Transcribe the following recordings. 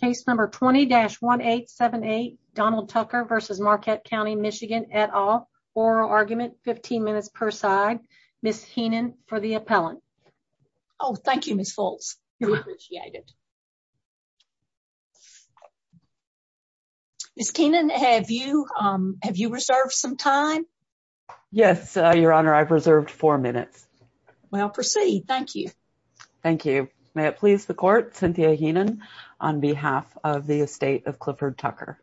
Case number 20-1878, Donald Tucker v. Marquette County MI et al. Oral argument, 15 minutes per side. Ms. Heenan for the appellant. Oh, thank you, Ms. Foltz. We appreciate it. Ms. Keenan, have you reserved some time? Yes, Your Honor, I've reserved four minutes. Well, proceed. Thank you. Thank you. May it please the Court, Cynthia Heenan, on behalf of the estate of Clifford Tucker.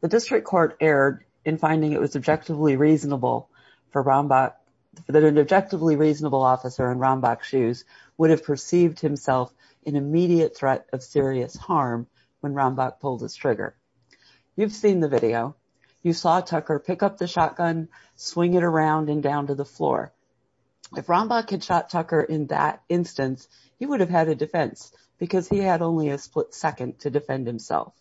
The District Court erred in finding it was objectively reasonable for Rombach, that an objectively reasonable officer in Rombach's shoes would have perceived himself in immediate threat of serious harm when Rombach pulled his trigger. You've seen the video. You saw Tucker pick up the shotgun, swing it around and down to the floor. If Rombach had shot Tucker in that instance, he would have had a defense because he had only a split second to defend himself.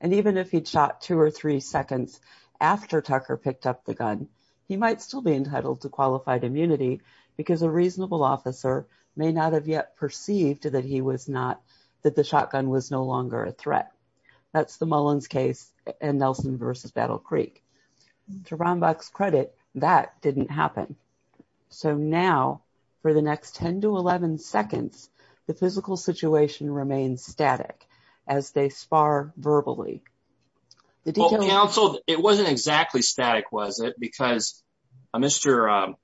And even if he'd shot two or three seconds after Tucker picked up the gun, he might still be entitled to qualified immunity because a reasonable officer may not have yet perceived that he was not, that the shotgun was no longer a threat. That's the Mullins case and Nelson v. Battle Creek. To Rombach's credit, that didn't happen. So now, for the next 10 to 11 seconds, the physical situation remains static as they spar verbally. Well, counsel, it wasn't exactly static, was it? Because Mr.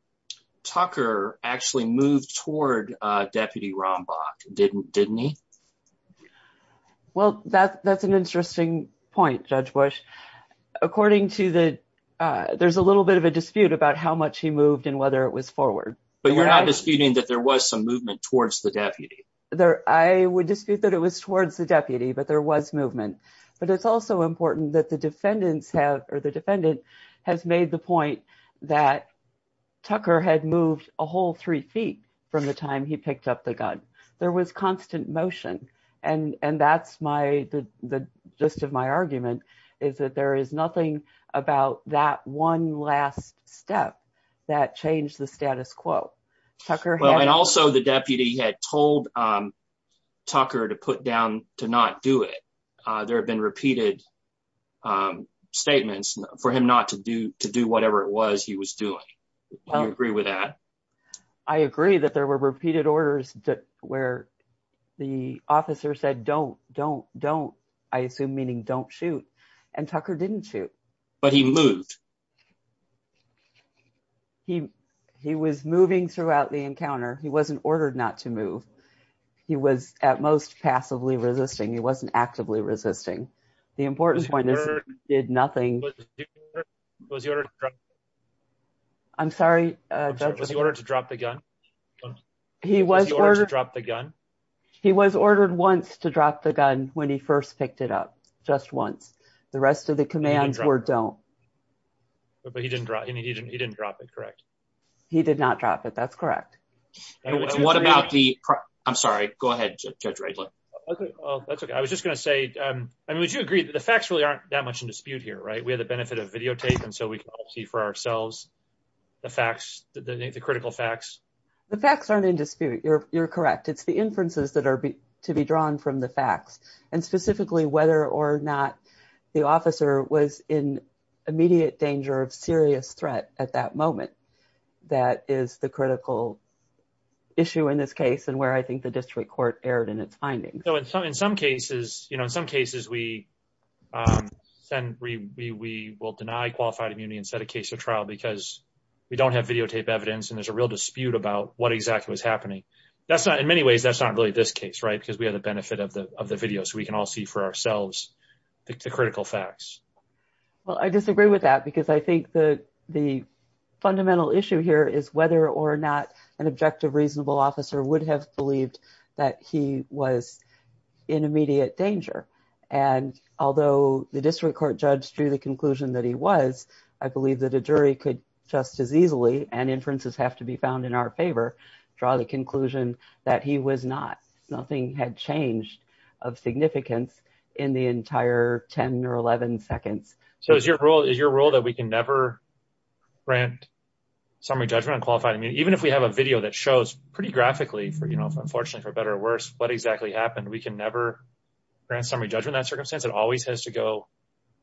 Tucker actually moved toward Deputy Rombach, didn't he? Well, that's an interesting point, Judge Bush. According to the, there's a little bit of a dispute about how much he moved and whether it was forward. But you're not disputing that there was some movement towards the deputy? There, I would dispute that it was towards the deputy, but there was movement. But it's also important that the defendants have, or the defendant has made the point that Tucker had moved a whole three feet from the time he picked up the gun. There was constant motion. And that's my, the gist of my argument is that there is nothing about that one last step that changed the status quo. And also the deputy had told Tucker to put down to not do it. There have been repeated statements for him not to do whatever it where the officer said, don't, don't, don't, I assume, meaning don't shoot. And Tucker didn't shoot. But he moved. He, he was moving throughout the encounter. He wasn't ordered not to move. He was at most passively resisting. He wasn't actively resisting. The important point is he was ordered to drop the gun. He was ordered once to drop the gun when he first picked it up, just once. The rest of the commands were don't. But he didn't drop it, correct? He did not drop it. That's correct. And what about the, I'm sorry, go ahead, Judge Raedler. Okay. Well, that's okay. I was just going to say, I mean, would you agree that the facts really aren't that much in dispute here, right? We have the benefit of videotape. And so we can all see for correct. It's the inferences that are to be drawn from the facts and specifically whether or not the officer was in immediate danger of serious threat at that moment. That is the critical issue in this case and where I think the district court erred in its findings. So in some, in some cases, you know, in some cases we send, we, we, we will deny qualified immunity instead of case or trial because we don't have videotape evidence and there's a real dispute about what exactly was happening. That's not, in many ways, that's not really this case, right? Because we have the benefit of the, of the video. So we can all see for ourselves the critical facts. Well, I disagree with that because I think the, the fundamental issue here is whether or not an objective reasonable officer would have believed that he was in immediate danger. And although the district court judge drew the conclusion that he was, I believe that a jury could just as easily, and inferences have to be found in our favor, draw the conclusion that he was not. Nothing had changed of significance in the entire 10 or 11 seconds. So is your rule, is your rule that we can never grant summary judgment on qualified immunity? Even if we have a video that shows pretty graphically for, you know, unfortunately for better or worse, what exactly happened, we can never grant summary judgment in that circumstance? It always has to go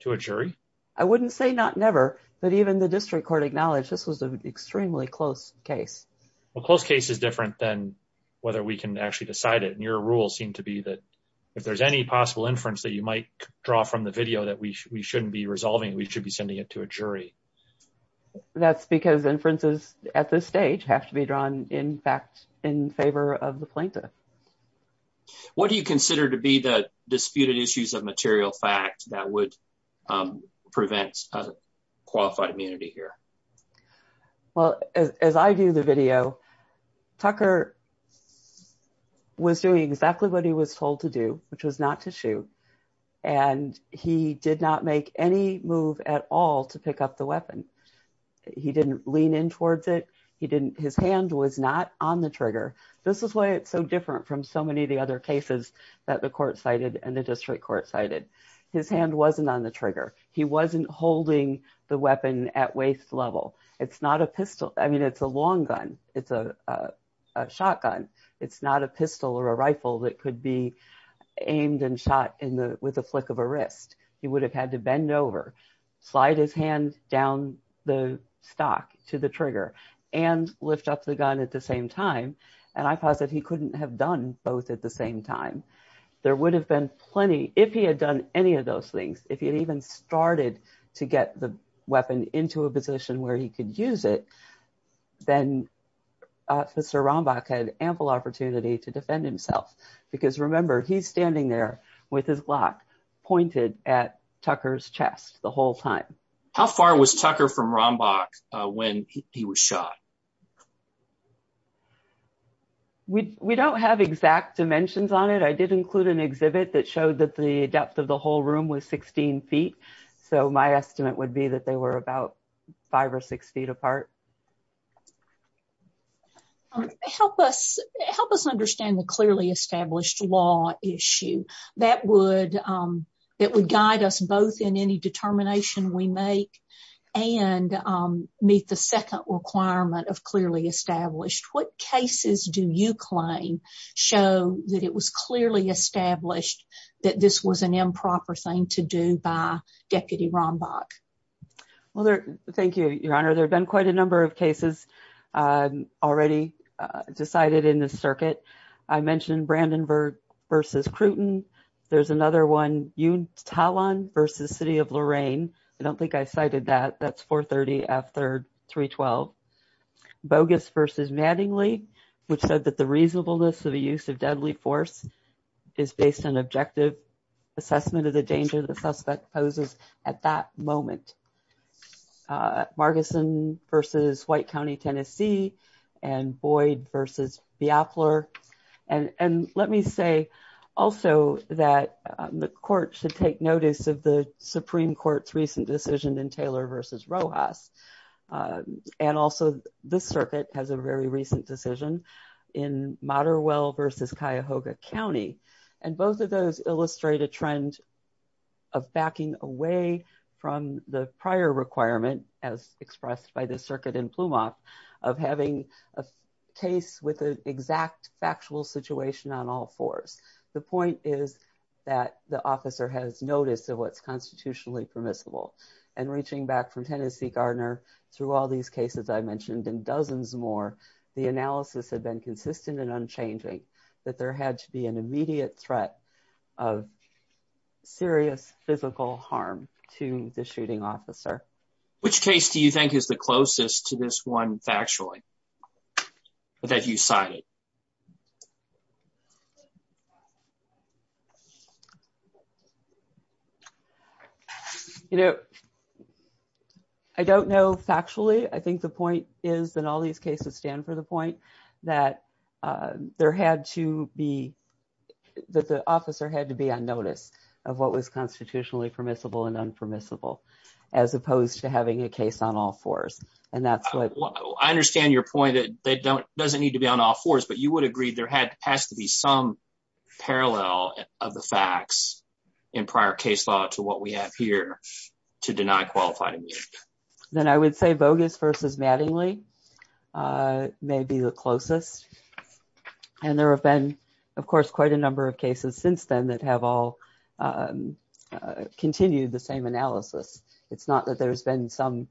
to a jury? I wouldn't say not never, but even the district court acknowledged this was an extremely close case. Well, close case is different than whether we can actually decide it. And your rule seemed to be that if there's any possible inference that you might draw from the video that we shouldn't be resolving, we should be sending it to a jury. That's because inferences at this stage have to be drawn in fact in favor of the plaintiff. What do you consider to be the disputed issues of material fact that would prevent qualified immunity here? Well, as I view the video, Tucker was doing exactly what he was told to do, which was not to shoot. And he did not make any move at all to pick up the weapon. He didn't lean in towards it. He didn't, his hand was not on the trigger. This is why it's so different from so many of the other cases that the court cited and district court cited. His hand wasn't on the trigger. He wasn't holding the weapon at waist level. It's not a pistol. I mean, it's a long gun. It's a shotgun. It's not a pistol or a rifle that could be aimed and shot with a flick of a wrist. He would have had to bend over, slide his hand down the stock to the trigger and lift up the gun at the same time. And I posit he couldn't have done both at the same time. There would have been plenty, if he had done any of those things, if he had even started to get the weapon into a position where he could use it, then officer Rombach had ample opportunity to defend himself. Because remember, he's standing there with his lock pointed at Tucker's chest the whole time. How far was Tucker from Rombach when he was shot? We don't have exact dimensions on it. I did include an exhibit that showed that the depth of the whole room was 16 feet. So my estimate would be that they were about five or six feet apart. Help us understand the clearly established law issue that would guide us both in any meet the second requirement of clearly established. What cases do you claim show that it was clearly established that this was an improper thing to do by Deputy Rombach? Well, thank you, Your Honor. There have been quite a number of cases already decided in the circuit. I mentioned Brandenburg versus Crewton. There's another one, Utah versus City of Lorraine. I don't think I cited that. That's 430 after 312. Bogus versus Mattingly, which said that the reasonableness of the use of deadly force is based on objective assessment of the danger the suspect poses at that moment. Margeson versus White County, Tennessee, and Boyd versus Biafler. And let me say also that the court should take notice of the Supreme Court's recent decision in Taylor versus Rojas. And also, this circuit has a very recent decision in Materwell versus Cuyahoga County. And both of those illustrate a trend of backing away from the prior requirement, as expressed by the circuit in Plumas, of having a case with an exact factual situation on all fours. The point is that the officer has notice of what's constitutionally permissible. And reaching back from Tennessee, Gardner, through all these cases I mentioned and dozens more, the analysis had been consistent and unchanging, that there had to be an immediate threat of serious physical harm to the shooting officer. Which case do you think is the closest to this one factually, that you cited? You know, I don't know factually. I think the point is that the officer had to be on notice of what was constitutionally permissible and unpermissible, as opposed to having a case on all fours. I understand your point that it doesn't need to be on all fours, but you would agree there has to be some parallel of the facts in prior case law to what we have here to deny qualified immunity. Then I would say Bogus versus Mattingly may be the closest. And there have been, of course, quite a number of cases since then that have all continued the same analysis. It's not that there's been some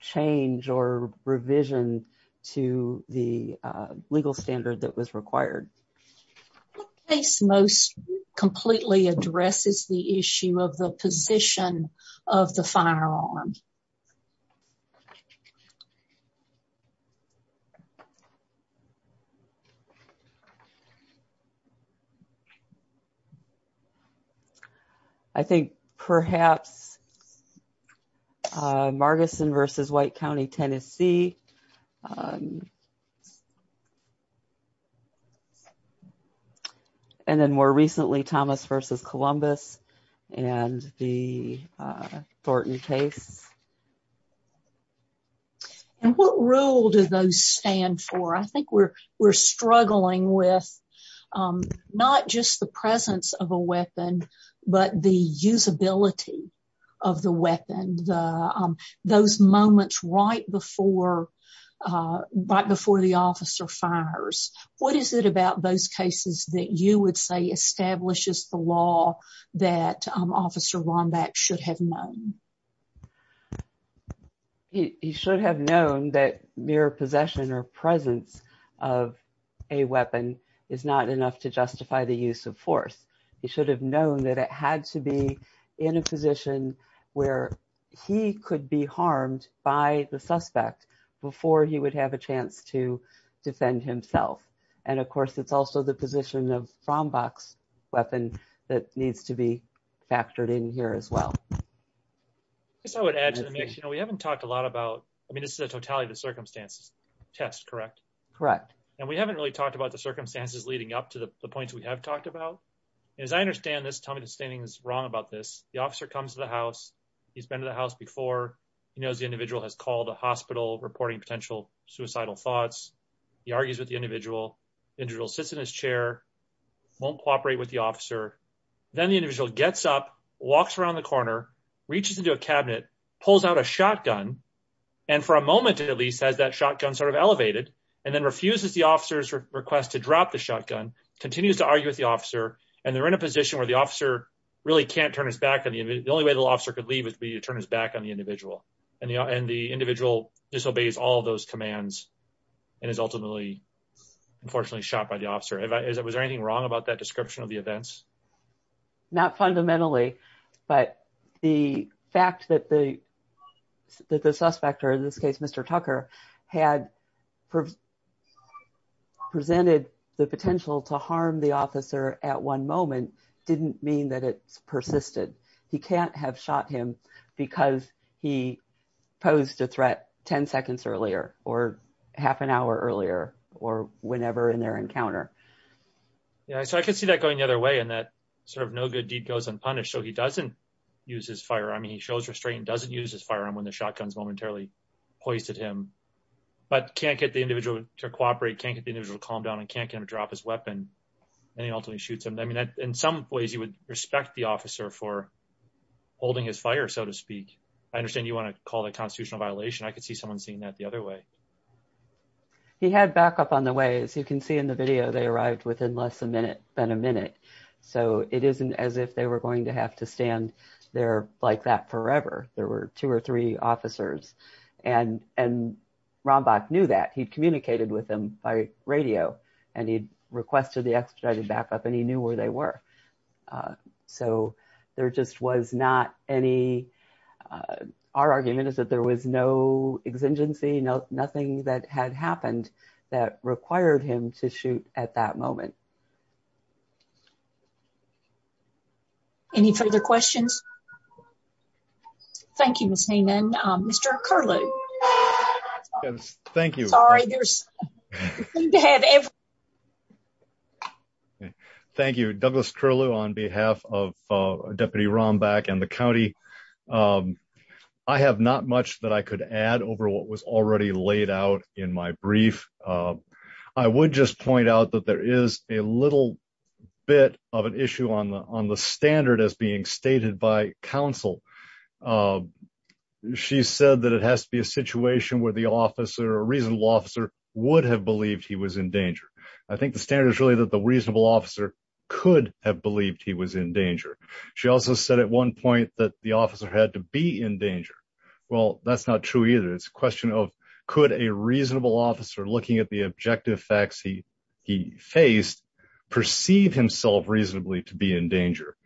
change or revision to the legal standard that was required. What case most completely addresses the issue of the position of the firearm? I think perhaps Margarson versus White County, Tennessee. And then more recently, Thomas versus Columbus and the Thornton case. And what role do those stand for? I think we're struggling with not just the presence of a weapon, but the usability of the weapon, those moments right before the officer fires. What is it about those cases that you would say establishes the law that Officer Lomback should have known? He should have known that mere possession or presence of a weapon is not enough to justify the use of force. He should have known that it had to be in a position where he could be harmed by the suspect before he would have a chance to defend himself. And, of course, it's also the position of Lomback's weapon that needs to be factored in here as well. I guess I would add to the mix, you know, we haven't talked a lot about, I mean, this is a totality of the circumstances test, correct? Correct. And we haven't really talked about the circumstances leading up to the points we have talked about. As I understand this, Tommy Destanis is wrong about this. The officer comes to the house. He's been to the house before. He knows the individual has called a hospital reporting potential suicidal thoughts. He argues with the individual. Individual sits in his chair, won't cooperate with the officer. Then the individual gets up, walks around the corner, reaches into a cabinet, pulls out a shotgun, and for a moment, at least, has that shotgun sort of request to drop the shotgun, continues to argue with the officer, and they're in a position where the officer really can't turn his back on the individual. The only way the officer could leave would be to turn his back on the individual. And the individual disobeys all those commands and is ultimately, unfortunately, shot by the officer. Was there anything wrong about that description of the events? Not fundamentally, but the fact that the presented the potential to harm the officer at one moment didn't mean that it persisted. He can't have shot him because he posed a threat 10 seconds earlier or half an hour earlier or whenever in their encounter. Yeah, so I could see that going the other way and that sort of no good deed goes unpunished. So he doesn't use his firearm. He shows restraint, doesn't use his firearm when shotguns momentarily hoisted him, but can't get the individual to cooperate, can't get the individual to calm down, and can't get him to drop his weapon, and he ultimately shoots him. I mean, in some ways, you would respect the officer for holding his fire, so to speak. I understand you want to call that constitutional violation. I could see someone seeing that the other way. He had backup on the way. As you can see in the video, they arrived within less than a minute. So it isn't as if they were going to have to stand there like that forever. There were two or three officers, and Rombach knew that. He'd communicated with them by radio, and he'd requested the expedited backup, and he knew where they were. So there just was not any... Our argument is that there was no exigency, nothing that had happened that required him to shoot at that moment. Any further questions? Thank you, Ms. Hainan. Mr. Curlew. Yes, thank you. Sorry, there's... We need to have everyone... Thank you. Douglas Curlew on behalf of Deputy Rombach and the county. I have not much that I could add over what was already laid out in my brief. I would just point out that there is a little bit of an issue on the standard as being stated by counsel. She said that it has to be a situation where the officer, a reasonable officer, would have believed he was in danger. I think the standard is really that the reasonable officer could have believed he was in danger. She also said at one point that the officer had to be in danger. Well, that's not true either. It's a perceive himself reasonably to be in danger.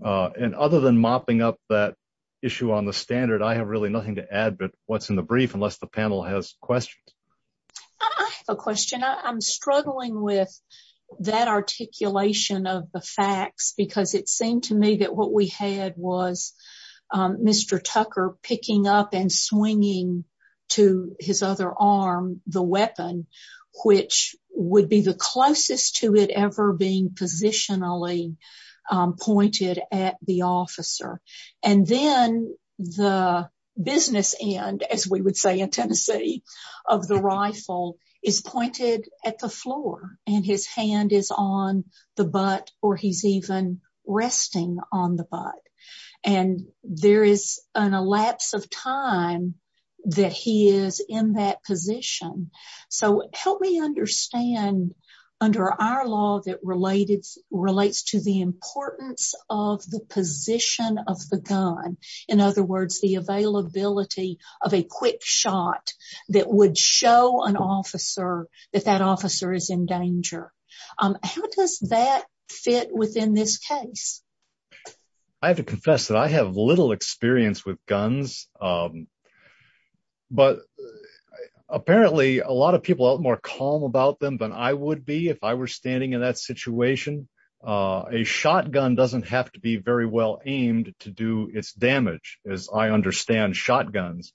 And other than mopping up that issue on the standard, I have really nothing to add but what's in the brief unless the panel has questions. I have a question. I'm struggling with that articulation of the facts because it seemed to me that what we had was Mr. Tucker picking up and swinging to his other arm the weapon, which would be the closest to it ever being positionally pointed at the officer. And then the business end, as we would say in Tennessee, of the rifle is pointed at the floor and his hand is on the butt or he's even resting on the butt. And there is an elapse of time that he is in that position. So help me understand under our law that relates to the importance of the position of the gun. In other words, the availability of a quick shot that would show an officer that that officer is in danger. How does that fit within this case? I have to confess that I have little experience with guns, but apparently a lot of people are more calm about them than I would be if I were standing in that situation. A shotgun doesn't have to be very well aimed to do its damage as I understand shotguns.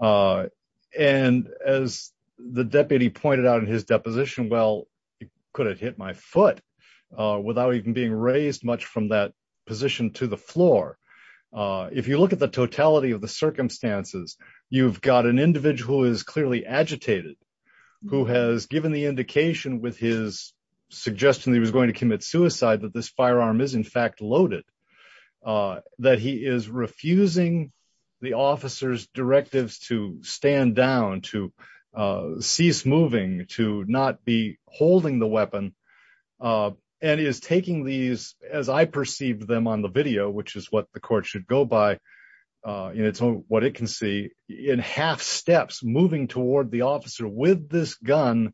And as the deputy pointed out in his deposition, well, it could have hit my foot without even being raised much from that position to the floor. If you look at the totality of the circumstances, you've got an individual who is clearly agitated, who has given the indication with his suggestion that he was going to commit suicide, that this firearm is in fact loaded, that he is refusing the officer's directives to stand down, to cease moving, to not be holding the weapon, and is taking these as I perceived them on the video, which is what the court should go by in its own, what it can see in half steps moving toward the officer with this gun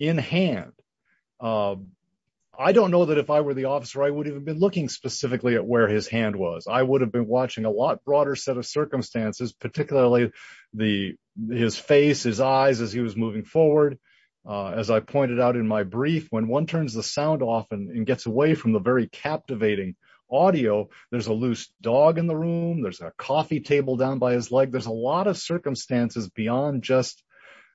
in hand. I don't know that if I were the officer, I would have been looking specifically at where his hand was. I would have been watching a lot broader set of circumstances, particularly his face, his eyes as he was moving forward. As I pointed out in my brief, when one turns the sound off and gets away from the very captivating audio, there's a loose dog in the room, there's a coffee table down by his leg. There's a lot of circumstances beyond just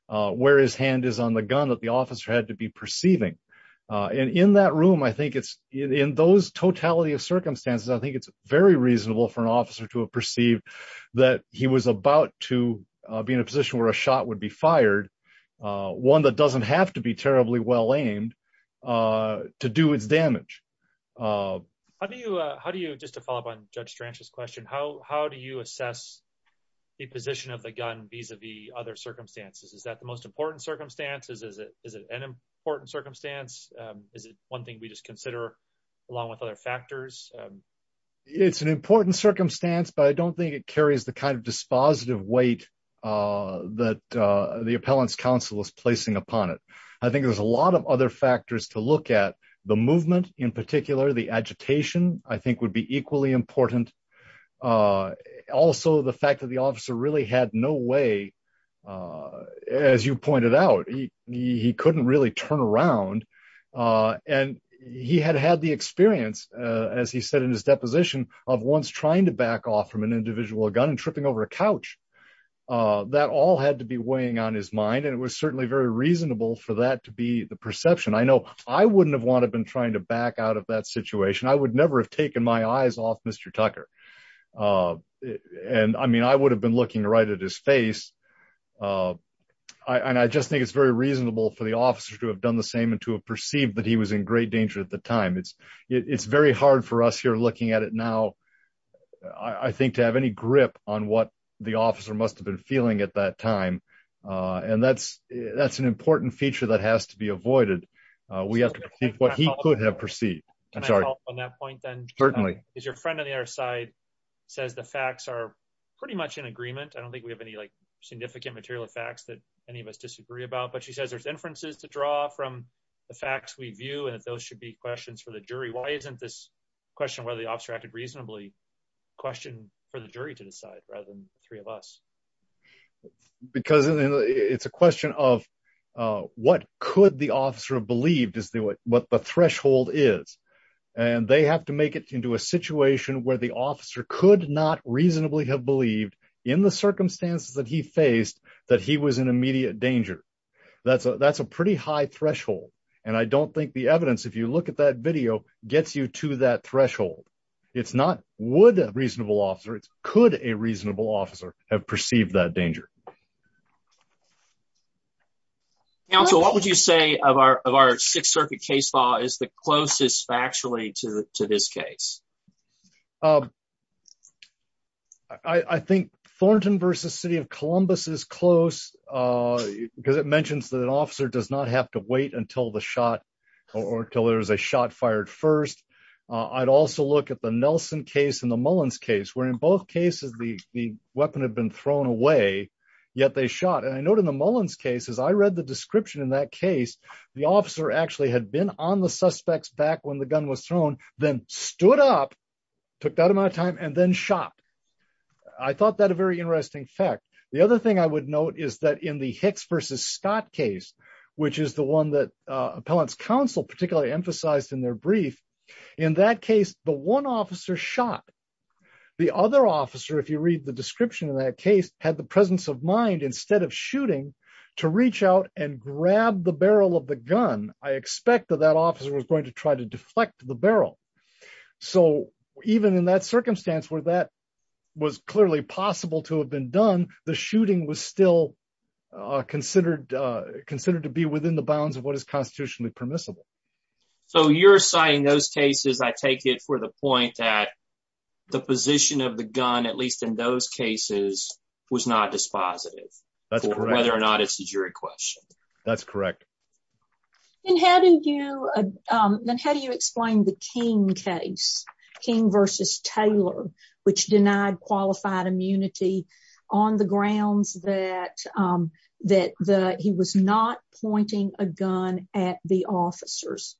where his hand is on the gun that the officer had to be perceiving. And in that room, I think it's in those totality of circumstances, I think it's very reasonable for an officer to have perceived that he was about to be in a situation where he was about to be fired, one that doesn't have to be terribly well-aimed to do its damage. How do you, just to follow up on Judge Stranch's question, how do you assess the position of the gun vis-a-vis other circumstances? Is that the most important circumstance? Is it an important circumstance? Is it one thing we just consider along with other factors? It's an important circumstance, but I don't think it carries the kind of dispositive weight that the appellant's counsel is placing upon it. I think there's a lot of other factors to look at. The movement in particular, the agitation, I think would be equally important. Also the fact that the officer really had no way, as you pointed out, he couldn't really turn around and he had had the experience, as he said in his deposition, of once trying to back off from an individual gun and tripping over a couch. That all had to be weighing on his mind and it was certainly very reasonable for that to be the perception. I know I wouldn't have wanted been trying to back out of that situation. I would never have taken my eyes off Mr. Tucker. I mean, I would have been looking right at his face. I just think it's very reasonable for the officer to have done the same and to have perceived that he was in great danger at the time. It's very hard for us here looking at it now, I think, to have any grip on what the officer must have been feeling at that time. That's an important feature that has to be avoided. We have to perceive what he could have perceived. Can I follow up on that point then? Certainly. Because your friend on the other side says the facts are pretty much in agreement. I don't think we have any significant material of facts that any of us disagree about, but she says there's inferences to draw from the facts we question whether the officer acted reasonably. Question for the jury to decide rather than three of us. Because it's a question of what could the officer have believed is what the threshold is and they have to make it into a situation where the officer could not reasonably have believed in the circumstances that he faced that he was in immediate danger. That's a pretty high threshold and I don't think the evidence, if you look at that video, gets you to that threshold. It's not would a reasonable officer, it's could a reasonable officer have perceived that danger. Counsel, what would you say of our Sixth Circuit case law is the closest factually to this case? I think Thornton versus City of Columbus is close because it mentions that an officer shot fired first. I'd also look at the Nelson case and the Mullins case, where in both cases the weapon had been thrown away, yet they shot. And I note in the Mullins case, as I read the description in that case, the officer actually had been on the suspects back when the gun was thrown, then stood up, took that amount of time, and then shot. I thought that a very interesting fact. The other thing I would note is that in the Hicks versus Scott case, which is the one that appellant's counsel particularly emphasized in their brief, in that case the one officer shot. The other officer, if you read the description in that case, had the presence of mind, instead of shooting, to reach out and grab the barrel of the gun. I expect that that officer was going to try to deflect the barrel. So even in that circumstance where that was clearly possible to have been done, the shooting was still considered to be within the bounds of what is constitutionally permissible. So you're citing those cases, I take it for the point that the position of the gun, at least in those cases, was not dispositive. That's correct. Whether or not it's a jury question. That's correct. And how do you explain the King case, King versus Taylor, which denied qualified immunity on the grounds that he was not pointing a gun at the officers?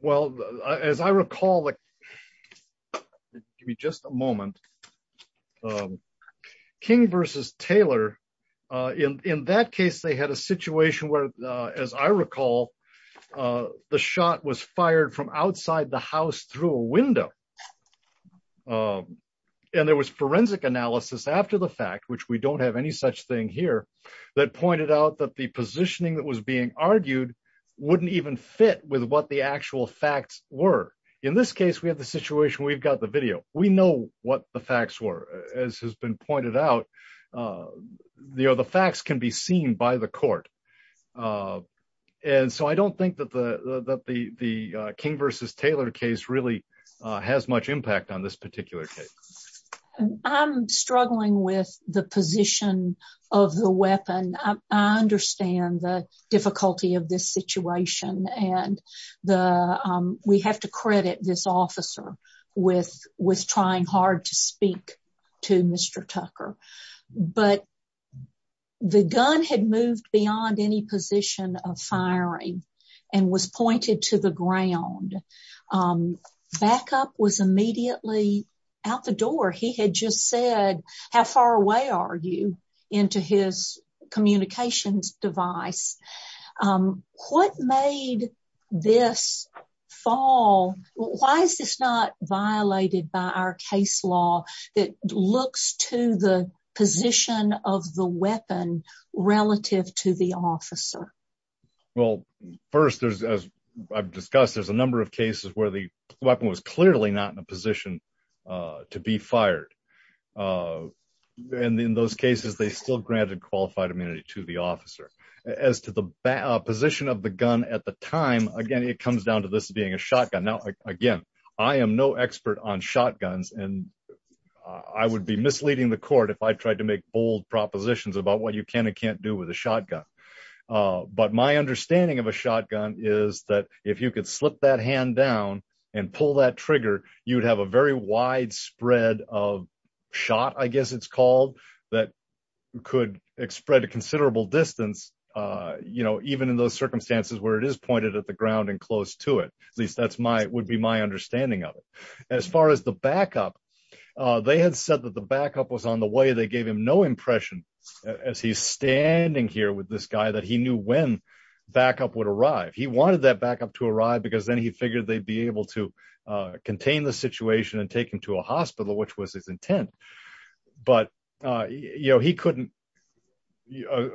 Well, as I recall, give me just a moment. King versus Taylor, in that case they had a situation where, as I recall, the shot was fired from outside the house through a window. And there was forensic analysis after the fact, which we don't have any such thing here, that pointed out that the positioning that was being argued wouldn't even fit with what the actual facts were. In this case, we have the situation, we've got the video, we know what the facts were. As has been pointed out, the facts can be seen by the court. And so I don't think that the King versus Taylor case really has much impact on this particular case. I'm struggling with the position of the weapon. I understand the difficulty of this situation, and we have to credit this officer with trying hard to speak to Mr. Tucker. But the gun had moved beyond any position of firing and was pointed to the ground. Backup was immediately out the door. He had just said, how far away are you into his communications device? What made this fall? Why is this not violated by our case law that looks to the position of the weapon relative to the officer? Well, first, as I've discussed, there's a number of cases where the weapon was clearly not in a position to be fired. And in those cases, they still granted qualified immunity to the officer. As to the position of the gun at the time, again, it comes down to this being a shotgun. Now, again, I am no expert on shotguns, and I would be misleading the court if I tried to make bold propositions about what you can and can't do with a shotgun. But my understanding of a shotgun is that if you could slip that hand down and pull that trigger, you'd have a very wide spread of shot, I guess it's called, that could spread a considerable distance, even in those circumstances where it is pointed at the ground and close to it. At least that would be my understanding of it. As far as the backup, they had said that the backup was on the way. They gave him no impression as he's standing here with this guy that he knew when backup would arrive. He wanted that backup to arrive because then he figured they'd be able to contain the situation and take him to a hospital, which was his intent. But, you know, he couldn't,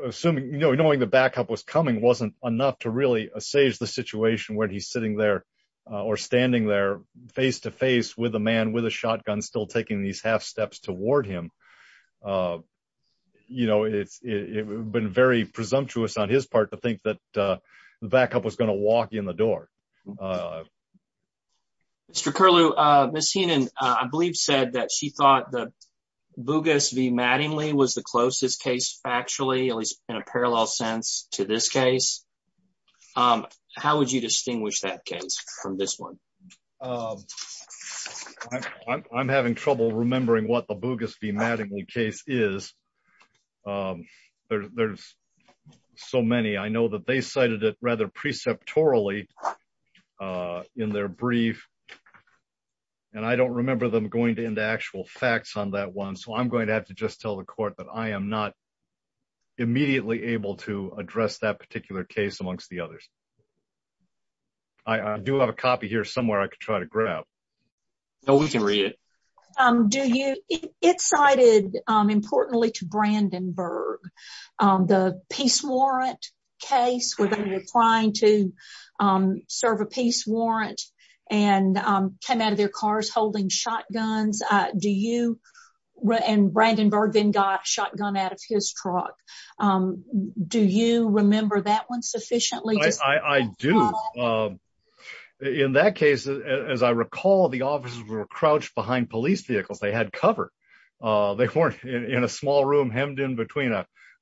assuming, you know, knowing the backup was coming wasn't enough to really assuage the situation where he's sitting there or standing there face-to-face with a man with a shotgun still taking these half steps toward him. You know, it's been very presumptuous on his part to think that the backup was going to walk in the direction that it was going to. Mr. Curlew, Ms. Heenan, I believe, said that she thought the Bugis v. Mattingly was the closest case, factually, at least in a parallel sense to this case. How would you distinguish that case from this one? I'm having trouble remembering what the Bugis v. Mattingly case is. There's so many. I know that they cited it rather preceptorally in their brief, and I don't remember them going into actual facts on that one, so I'm going to have to just tell the court that I am not immediately able to address that particular case amongst the others. I do have a copy here somewhere I could try to grab. No, we can read it. Do you—it cited, importantly, to Brandenburg the peace warrant case where they were trying to serve a peace warrant and came out of their cars holding shotguns. Do you—and Brandenburg then got a shotgun out of his truck. Do you remember that one sufficiently? I do. In that case, as I recall, the officers were crouched behind police vehicles. They had cover. They weren't in a small room hemmed in between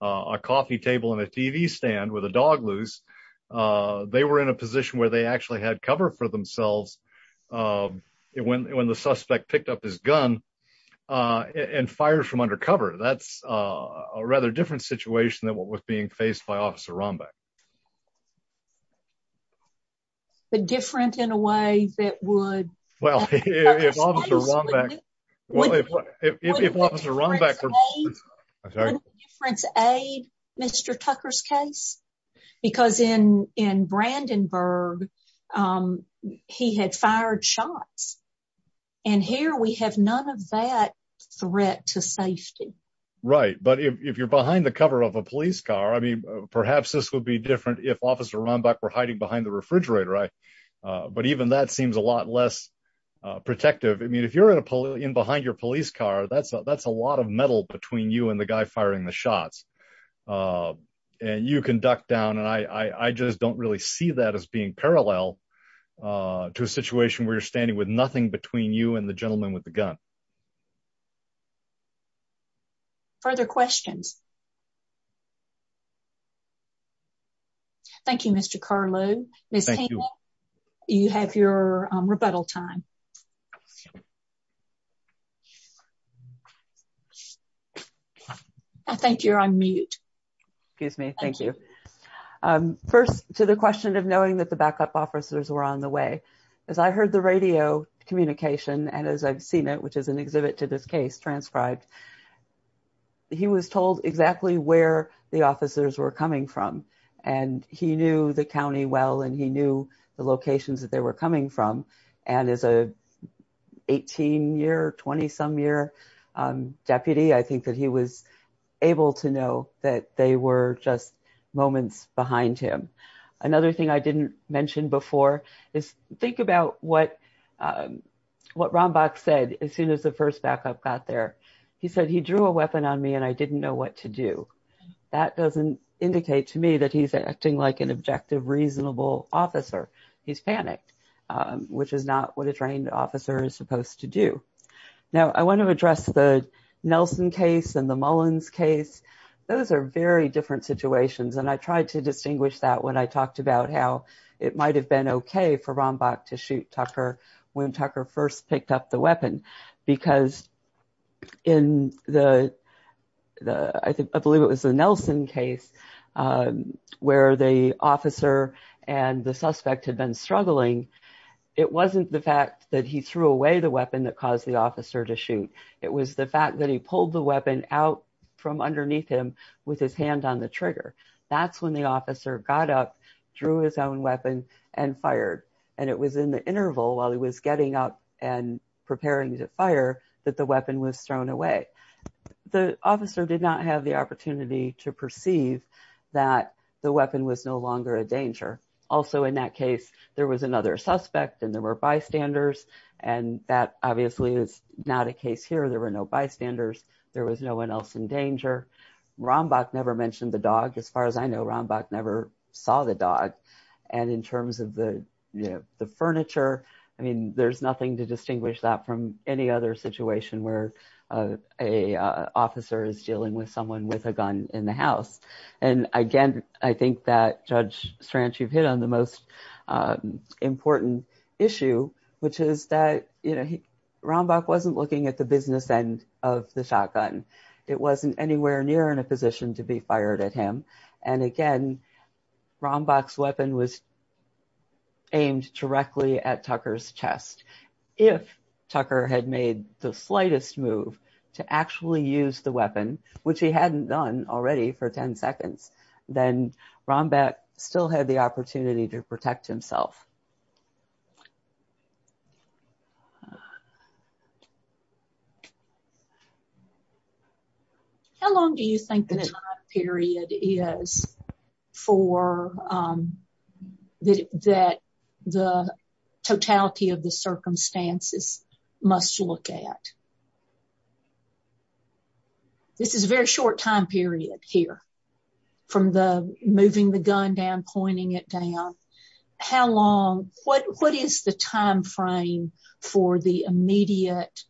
a coffee table and a TV stand with a dog loose. They were in a position where they actually had cover for themselves when the suspect picked up his gun and fired from undercover. That's a rather different situation than what was faced by Officer Rombach. But different in a way that would— Well, if Officer Rombach— Wouldn't the difference aid Mr. Tucker's case? Because in Brandenburg, he had fired shots, and here we have none of that threat to safety. Right. But if you're behind the cover of a police car, I mean, perhaps this would be different if Officer Rombach were hiding behind the refrigerator. But even that seems a lot less protective. I mean, if you're in behind your police car, that's a lot of metal between you and the guy firing the shots. And you can duck down, and I just don't really see that as being parallel to a situation where you're standing with nothing between you and the gentleman with the gun. Further questions? Thank you, Mr. Carlow. Ms. Haney, you have your rebuttal time. I think you're on mute. Excuse me. Thank you. First, to the question of knowing that the backup officers were on the way. As I heard the radio communication, and as I've seen it, which is an exhibit to this case transcribed, he was told exactly where the officers were coming from. And he knew the county well, and he knew the locations that they were coming from. And as a 18-year, 20-some-year deputy, I think that he was able to know that they were just moments behind him. Another thing I didn't mention before is think about what Rombach said as soon as the first backup got there. He said, he drew a weapon on me, and I didn't know what to do. That doesn't indicate to me that he's acting like an objective, reasonable officer. He's panicked, which is not what a trained officer is supposed to do. Now, I want to address the Nelson case and the Mullins case. Those are very different situations, and I tried to distinguish that when I talked about how it might have been okay for Rombach to shoot Tucker when Tucker first picked up the weapon, because in the, I believe it was the Nelson case, where the officer and the suspect had been struggling, it wasn't the fact that he threw away the weapon that caused the officer to shoot. It was the fact that he pulled the weapon out from underneath him with his hand on the trigger. That's when the officer got up, drew his own weapon, and fired. And it was in the interval while he was getting up and preparing to fire that the weapon was thrown away. The officer did not have the opportunity to perceive that the weapon was no longer a danger. Also, in that case, there was another suspect, and there were bystanders, and that obviously is not a case here. There were no bystanders. There was no one else in danger. Rombach never mentioned the dog. As far as I know, Rombach never saw the dog. And in terms of the, you know, the furniture, I mean, there's nothing to distinguish that from any other situation where a officer is dealing with someone with a gun in the house. And again, I think that, Judge Strange, you've hit on the most important issue, which is that, you know, Rombach wasn't looking at the business end of the shotgun. It wasn't anywhere near in a position to be fired at him. And again, Rombach's weapon was aimed directly at Tucker's chest. If Tucker had made the slightest move to actually use the weapon, which he hadn't done already for 10 seconds, then Rombach still had the opportunity to protect himself. How long do you think the time period is for that the totality of the circumstances must look at? This is a very short time period here from the moving the gun down, pointing it down. How long, what is the time frame for the immediate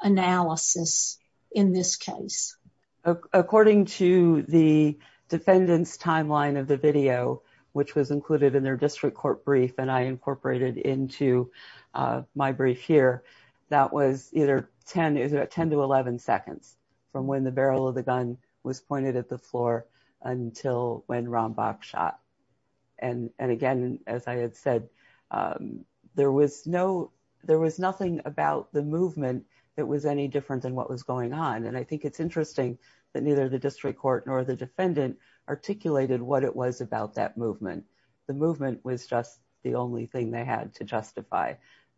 analysis in this case? According to the defendant's timeline of the video, which was included in their district court brief, and I incorporated into my brief here, that was either 10 is about 10 to 11 seconds from when the barrel of the gun was pointed at the floor until when Rombach shot. And again, as I had said, there was no, there was nothing about the movement that was any different than what was going on. And I think it's interesting that neither the district court nor the defendant articulated what it was about that movement. The movement was just the only thing they had to justify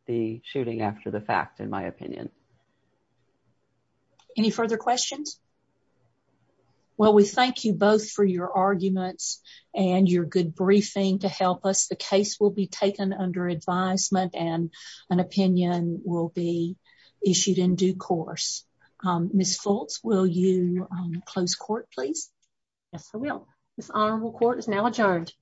the shooting after the fact, in my opinion. Any further questions? Well, we thank you both for your arguments and your good briefing to help us. The case will be taken under advisement and an opinion will be issued in due course. Ms. Fultz, will you close court, please? Yes, I will. This honorable court is now adjourned.